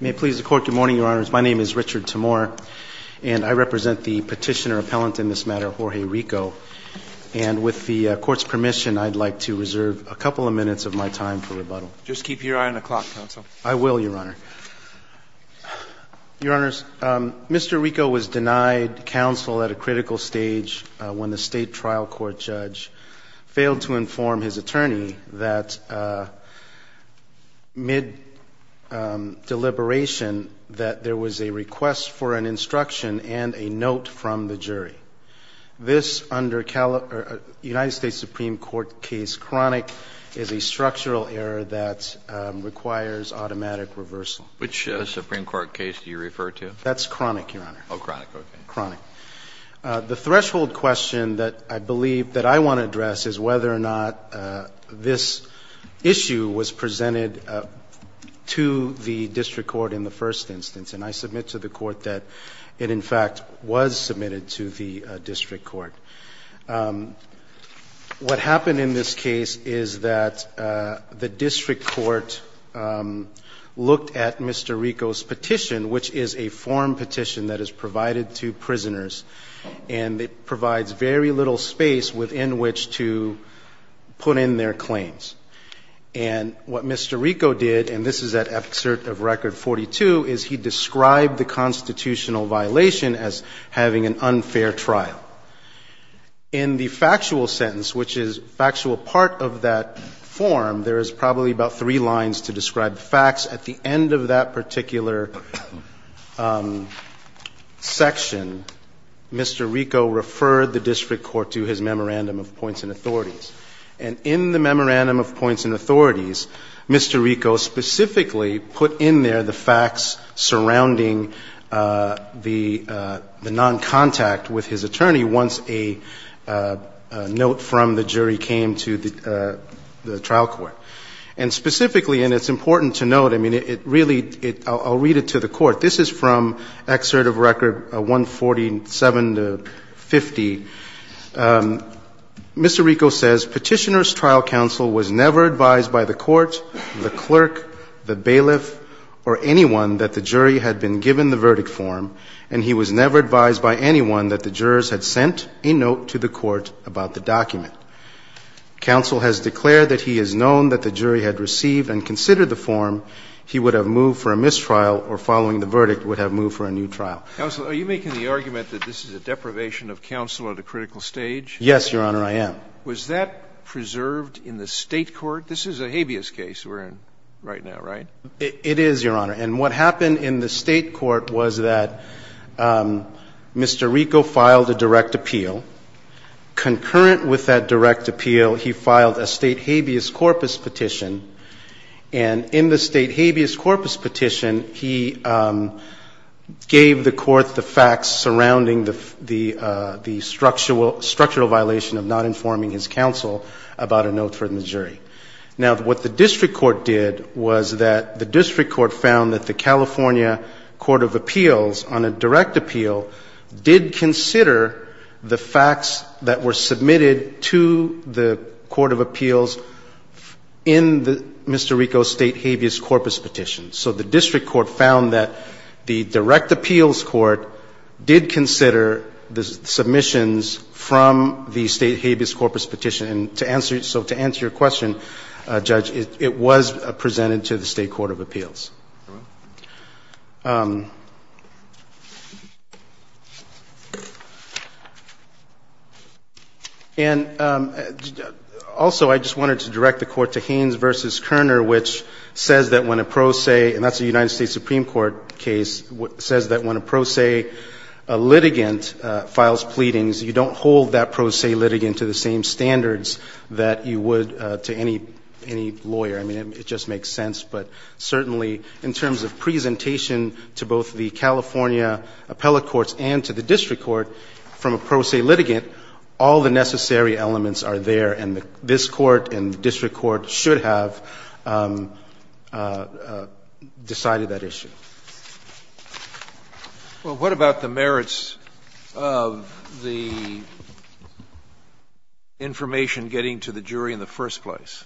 May it please the Court, good morning, Your Honors. My name is Richard Timor, and I represent the petitioner-appellant in this matter, Jorge Rico. And with the Court's permission, I'd like to reserve a couple of minutes of my time for rebuttal. Just keep your eye on the clock, Counsel. I will, Your Honor. Your Honors, Mr. Rico was denied counsel at a critical stage when the State Trial Court judge failed to inform his attorney that, mid-deliberation, that there was a request for an instruction and a note from the jury. This, under United States Supreme Court case chronic, is a structural error that requires automatic reversal. Which Supreme Court case do you refer to? That's chronic, Your Honor. Oh, chronic, okay. Chronic. The threshold question that I believe that I want to address is whether or not this issue was presented to the District Court in the first instance. And I submit to the Court that it, in fact, was submitted to the District Court. What happened in this case is that the District Court looked at Mr. Rico's petition, which is a form petition that is provided to prisoners, and it provides very little space within which to put in their claims. And what Mr. Rico did, and this is at excerpt of Record 42, is he described the constitutional violation as having an unfair trial. In the factual sentence, which is factual part of that form, there is probably about three lines to describe facts. At the end of that particular section, Mr. Rico referred the District Court to his memorandum of points and authorities. And in the memorandum of points and authorities, Mr. Rico specifically put in there the facts surrounding the noncontact with his attorney once a note from the jury came to the trial court. And specifically, and it's important to note, I mean, it really, I'll read it to the Court. This is from excerpt of Record 147 to 50. Mr. Rico says, Petitioner's trial counsel was never advised by the Court, the clerk, the bailiff, or anyone that the jury had been given the verdict form, and he was never advised by anyone that the jurors had sent a note to the Court about the document. Counsel has declared that he has known that the jury had received and considered the form. He would have moved for a mistrial or, following the verdict, would have moved for a new trial. Counsel, are you making the argument that this is a deprivation of counsel at a critical stage? Yes, Your Honor, I am. Was that preserved in the State court? This is a habeas case we're in right now, right? It is, Your Honor. And what happened in the State court was that Mr. Rico filed a direct appeal. Concurrent with that direct appeal, he filed a State habeas corpus petition. And in the State habeas corpus petition, he gave the Court the facts surrounding the structural violation of not informing his counsel about a note from the jury. Now, what the District Court did was that the District Court found that the California Court of Appeals, on a direct appeal, did consider the facts that were submitted to the Court of Appeals in the Mr. Rico's State habeas corpus petition. So the District Court found that the Direct Appeals Court did consider the submissions from the State habeas corpus petition. And to answer your question, Judge, it was presented to the State Court of Appeals. And also, I just wanted to direct the Court to Haynes v. Koerner, which says that when a pro se, and that's a United States Supreme Court case, says that when a pro se litigant files pleadings, you don't hold that pro se litigant to the same standards that you would to any lawyer. I mean, it just makes sense. But certainly, in this case, the Supreme Court, in terms of presentation to both the California appellate courts and to the District Court from a pro se litigant, all the necessary elements are there, and this Court and the District Court should have decided that issue. Well, what about the merits of the information getting to the jury in the first place?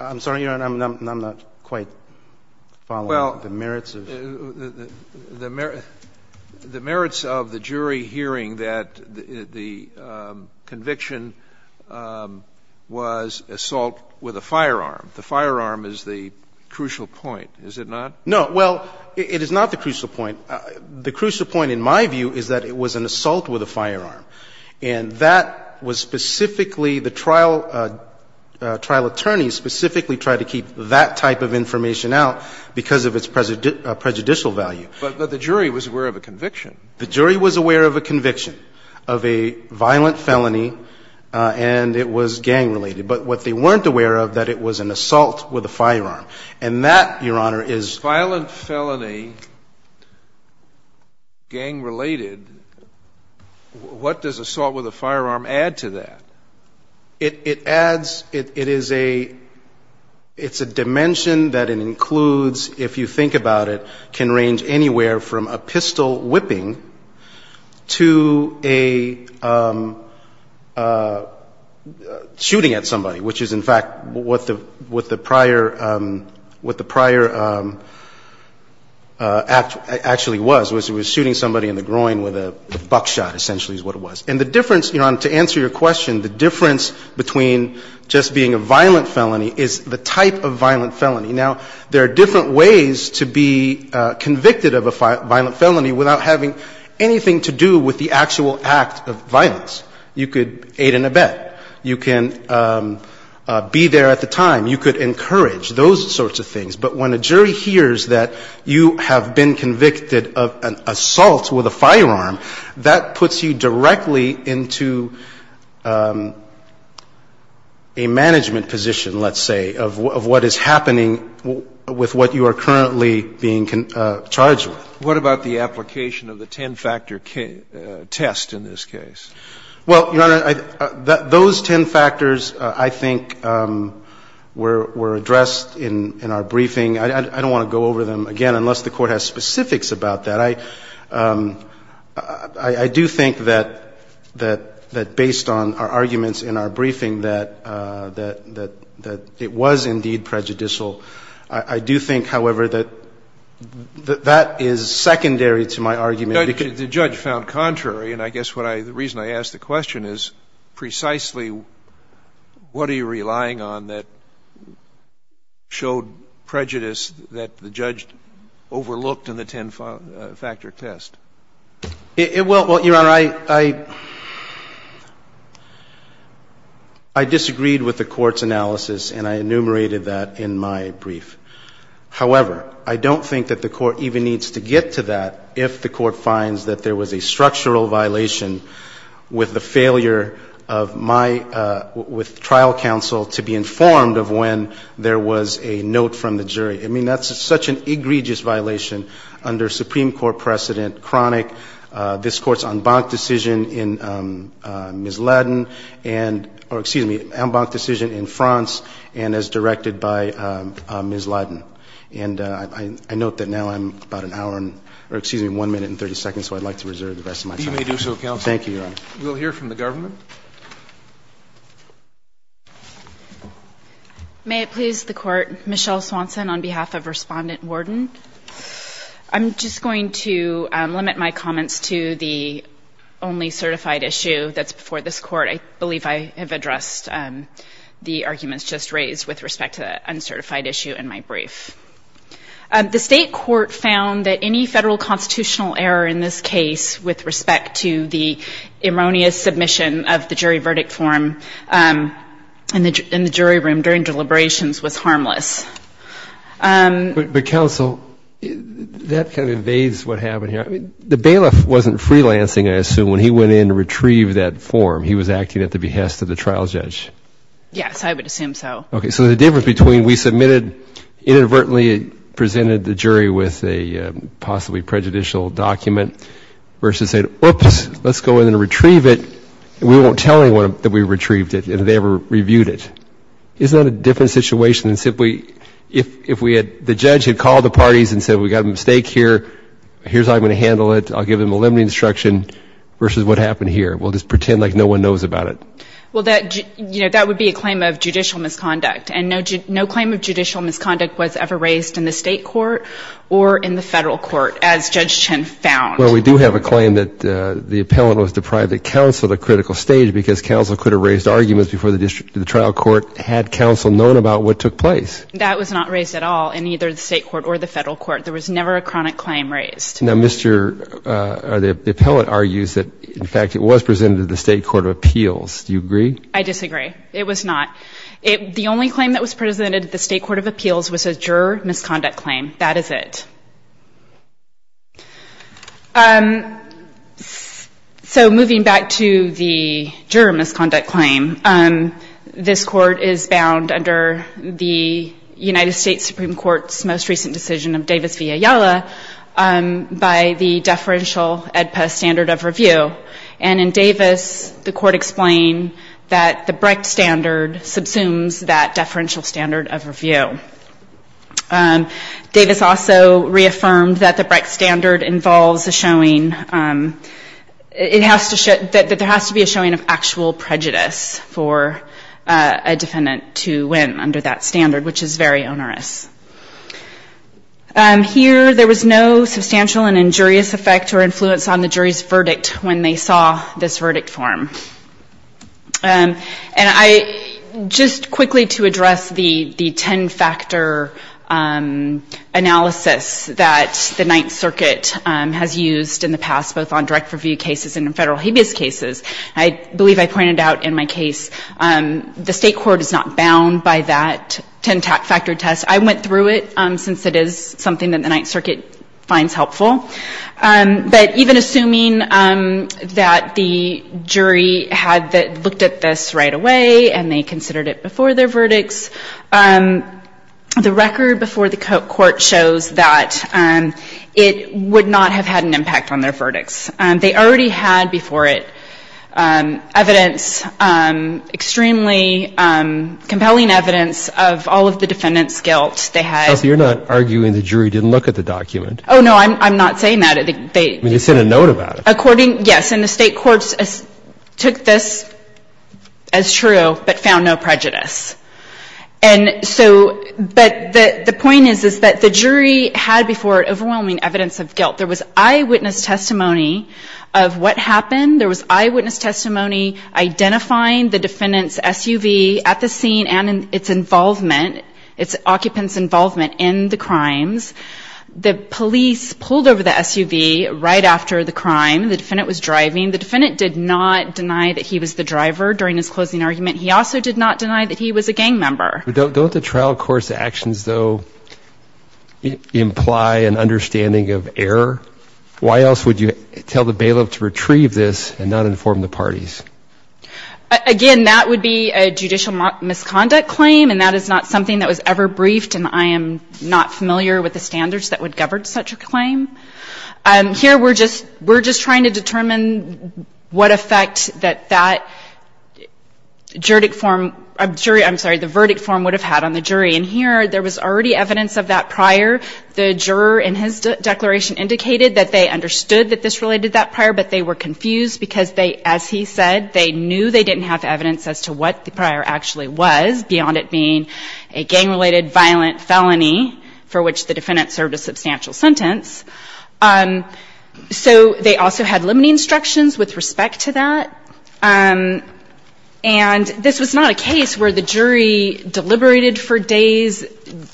I'm sorry, Your Honor, I'm not quite following the merits of the jury hearing that the conviction was assault with a firearm. The firearm is the crucial point, is it not? No. Well, it is not the crucial point. The crucial point, in my view, is that it was an assault with a firearm, and that was specifically the trial attorneys specifically tried to keep that type of information out because of its prejudicial value. But the jury was aware of a conviction. The jury was aware of a conviction, of a violent felony, and it was gang-related. But what they weren't aware of, that it was an assault with a firearm. And that, Your Honor, is the crucial point. What does assault with a firearm add to that? It adds, it is a, it's a dimension that it includes, if you think about it, can range anywhere from a pistol whipping to a shooting at somebody, which is, in fact, what the prior, what the prior act actually was, was it was shooting somebody in the groin with a buckshot, essentially, is what it was. And the difference, Your Honor, to answer your question, the difference between just being a violent felony is the type of violent felony. Now, there are different ways to be convicted of a violent felony without having anything to do with the actual act of violence. You could aid and abet. You can be there at the time. You could encourage, those sorts of things. But when a jury hears that you have been convicted of an assault with a firearm, that puts you directly into a management position, let's say, of what is happening with what you are currently being charged with. What about the application of the ten-factor test in this case? Well, Your Honor, those ten factors, I think, were addressed in our briefing. I don't want to go over them again unless the Court has specifics about that. I do think that based on our arguments in our briefing that it was indeed prejudicial. I do think, however, that that is secondary to my argument. But the judge found contrary, and I guess what I – the reason I ask the question is precisely what are you relying on that showed prejudice that the judge overlooked in the ten-factor test? Well, Your Honor, I disagreed with the Court's analysis, and I enumerated that in my brief. However, I don't think that the Court even needs to get to that if the Court finds that there was a structural violation with the failure of my – with trial counsel to be informed of when there was a note from the jury. I mean, that's such an egregious violation under Supreme Court precedent, chronic. This Court's en banc decision in Ms. Ladin and – or excuse me, en banc decision in France and as directed by Ms. Ladin. And I note that now I'm about an hour and – or excuse me, 1 minute and 30 seconds, so I'd like to reserve the rest of my time. You may do so, counsel. Thank you, Your Honor. We'll hear from the government. May it please the Court. Michelle Swanson on behalf of Respondent Worden. I'm just going to limit my comments to the only certified issue that's before this Court. I believe I have addressed the arguments just raised with respect to the uncertified issue in my brief. The State Court found that any Federal constitutional error in this case with respect to the erroneous submission of the jury verdict form in the jury room during deliberations was harmless. But, counsel, that kind of evades what happened here. The bailiff wasn't freelancing, I assume, when he went in to retrieve that form. He was acting at the behest of the trial judge. Yes, I would assume so. Okay. So the difference between we submitted, inadvertently presented the jury with a possibly prejudicial document, versus saying, oops, let's go in and retrieve it, and we won't tell anyone that we retrieved it and that they ever reviewed it. Isn't that a different situation than simply if we had the judge had called the parties and said, we've got a mistake here, here's how I'm going to handle it, I'll give them a limiting instruction, versus what happened here. We'll just pretend like no one knows about it. Well, that would be a claim of judicial misconduct. And no claim of judicial misconduct was ever raised in the State court or in the Federal court, as Judge Chen found. Well, we do have a claim that the appellant was deprived of counsel at a critical stage because counsel could have raised arguments before the trial court had counsel known about what took place. That was not raised at all in either the State court or the Federal court. There was never a chronic claim raised. Now, the appellant argues that, in fact, it was presented to the State court of appeals and that it was a juror misconduct claim. Do you agree? I disagree. It was not. The only claim that was presented at the State court of appeals was a juror misconduct claim. That is it. So moving back to the juror misconduct claim, this Court is bound under the United States Supreme Court's most recent decision of Davis v. Ayala by the deferential AEDPA standard of review. And in Davis, the Court explained that the Brecht standard subsumes that deferential standard of review. Davis also reaffirmed that the Brecht standard involves a showing, it has to show, that there has to be a showing of actual prejudice for a defendant to win under that standard, which is very onerous. Here, there was no substantial and injurious effect or influence on the jury's judgment when they saw this verdict form. And I, just quickly to address the ten-factor analysis that the Ninth Circuit has used in the past, both on direct review cases and in federal habeas cases, I believe I pointed out in my case, the State court is not bound by that ten-factor test. I went through it since it is something that the Ninth Circuit finds helpful. But even assuming that the jury had looked at this right away and they considered it before their verdicts, the record before the court shows that it would not have had an impact on their verdicts. They already had before it evidence, extremely compelling evidence of all of the defendant's guilt. They had ‑‑ So you're not arguing the jury didn't look at the document? Oh, no. I'm not saying that. They ‑‑ You sent a note about it. Yes. And the State courts took this as true but found no prejudice. And so ‑‑ but the point is, is that the jury had before it overwhelming evidence of guilt. There was eyewitness testimony of what happened. There was eyewitness testimony identifying the defendant's SUV at the scene and its involvement, its occupant's involvement in the crimes. The police pulled over the SUV right after the crime. The defendant was driving. The defendant did not deny that he was the driver during his closing argument. He also did not deny that he was a gang member. Don't the trial court's actions, though, imply an understanding of error? Why else would you tell the bailiff to retrieve this and not inform the parties? Again, that would be a judicial misconduct claim and that is not something that I am not familiar with the standards that would govern such a claim. Here we're just trying to determine what effect that that juridic form ‑‑ I'm sorry, the verdict form would have had on the jury. And here there was already evidence of that prior. The juror in his declaration indicated that they understood that this related to that prior but they were confused because, as he said, they knew they didn't have evidence as to what the prior actually was beyond it being a gang‑related violent felony for which the defendant served a substantial sentence. So they also had limiting instructions with respect to that. And this was not a case where the jury deliberated for days.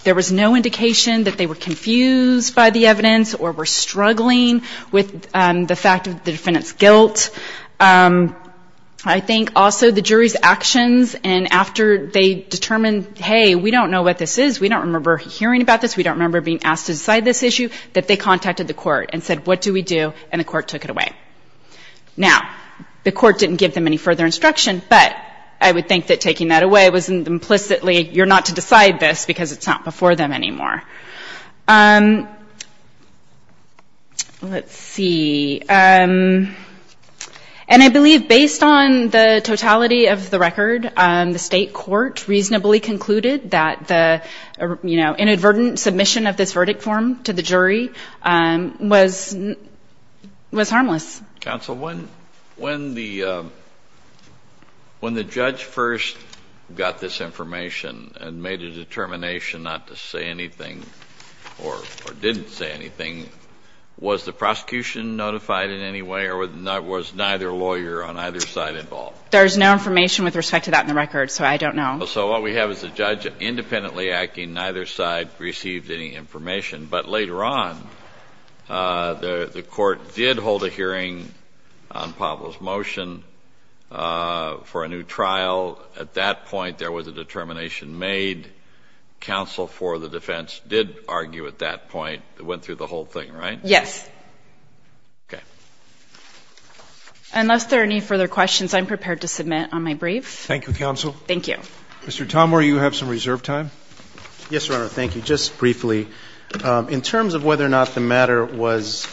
There was no indication that they were confused by the evidence or were struggling with the fact of the defendant's guilt. I think also the jury's actions and after they determined, hey, we don't know what this is, we don't remember hearing about this, we don't remember being asked to decide this issue, that they contacted the court and said what do we do, and the court took it away. Now, the court didn't give them any further instruction, but I would think that taking that away was implicitly you're not to decide this because it's not before them anymore. Let's see. And I believe based on the totality of the record, the state court reasonably concluded that the, you know, inadvertent submission of this verdict form to the jury was harmless. Counsel, when the judge first got this information and made a determination not to say anything or didn't say anything, was the prosecution notified in any way or was neither lawyer on either side involved? There's no information with respect to that in the record, so I don't know. So what we have is a judge independently acting, neither side received any information. But later on, the court did hold a hearing on Pavel's motion for a new trial. At that point, there was a determination made. Counsel for the defense did argue at that point. It went through the whole thing, right? Yes. Okay. Unless there are any further questions, I'm prepared to submit on my brief. Thank you, counsel. Thank you. Mr. Tomore, you have some reserve time. Yes, Your Honor. Thank you. Just briefly, in terms of whether or not the matter was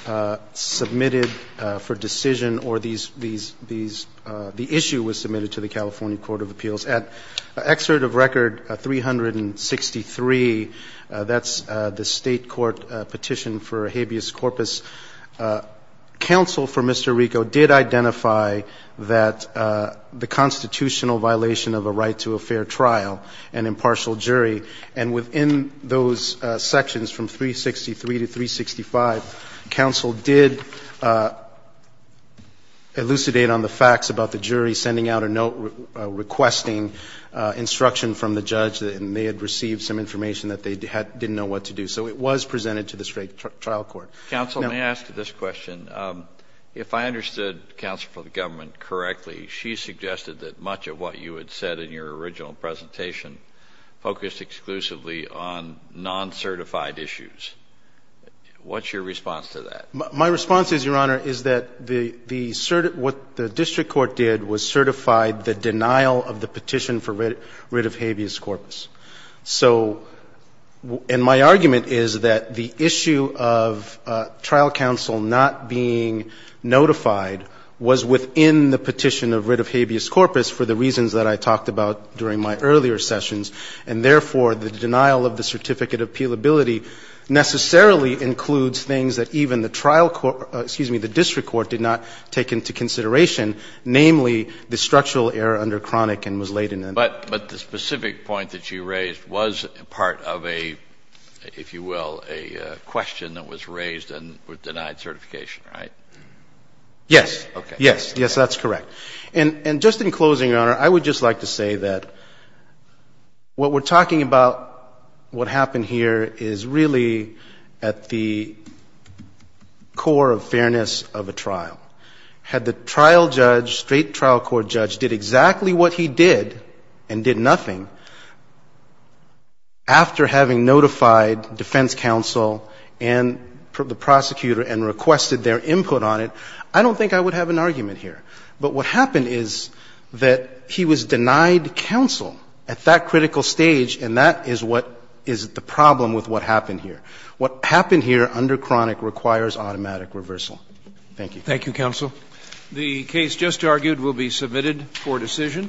submitted for decision or the issue was submitted to the California Court of Appeals, at Excerpt of Record 363, that's the state court petition for habeas corpus, counsel for Mr. Rico did identify that the constitutional violation of a right to a fair trial, an impartial jury, and within those sections from 363 to 365, counsel did identify that the constitutional violation of a right to a fair trial was not a right of the state. If the case is a fair trial, counsel did identify that the constitutional violation of a right to a fair trial was not a right of the state. Counsel, what I'm asking is, does this case, in some way, elucidate on the facts about the jury sending out a note requesting instruction from the judge and they had received some information that they didn't know what to do. So it was presented to the straight trial court. Counsel, may I ask you this question? If I understood counsel from the government correctly, she suggested that much of what you had said in your original presentation focused exclusively on non-certified issues. What's your response to that? My response is, Your Honor, is that what the district court did was certify the denial of the petition for writ of habeas corpus. So, and my argument is that the issue of trial counsel not being notified was within the petition of writ of habeas corpus for the reasons that I talked about during my earlier sessions, and therefore, the denial of the certificate of appealability necessarily includes things that even the trial court, excuse me, the district court did not take into consideration, namely, the structural error under chronic and was laid in. But the specific point that you raised was part of a, if you will, a question that was raised and was denied certification, right? Yes. Okay. Yes. Yes, that's correct. And just in closing, Your Honor, I would just like to say that what we're talking about, had the trial judge, straight trial court judge, did exactly what he did and did nothing, after having notified defense counsel and the prosecutor and requested their input on it, I don't think I would have an argument here. But what happened is that he was denied counsel at that critical stage, and that is what is the problem with what happened here. What happened here under chronic requires automatic reversal. Thank you. Thank you, counsel. The case just argued will be submitted for decision.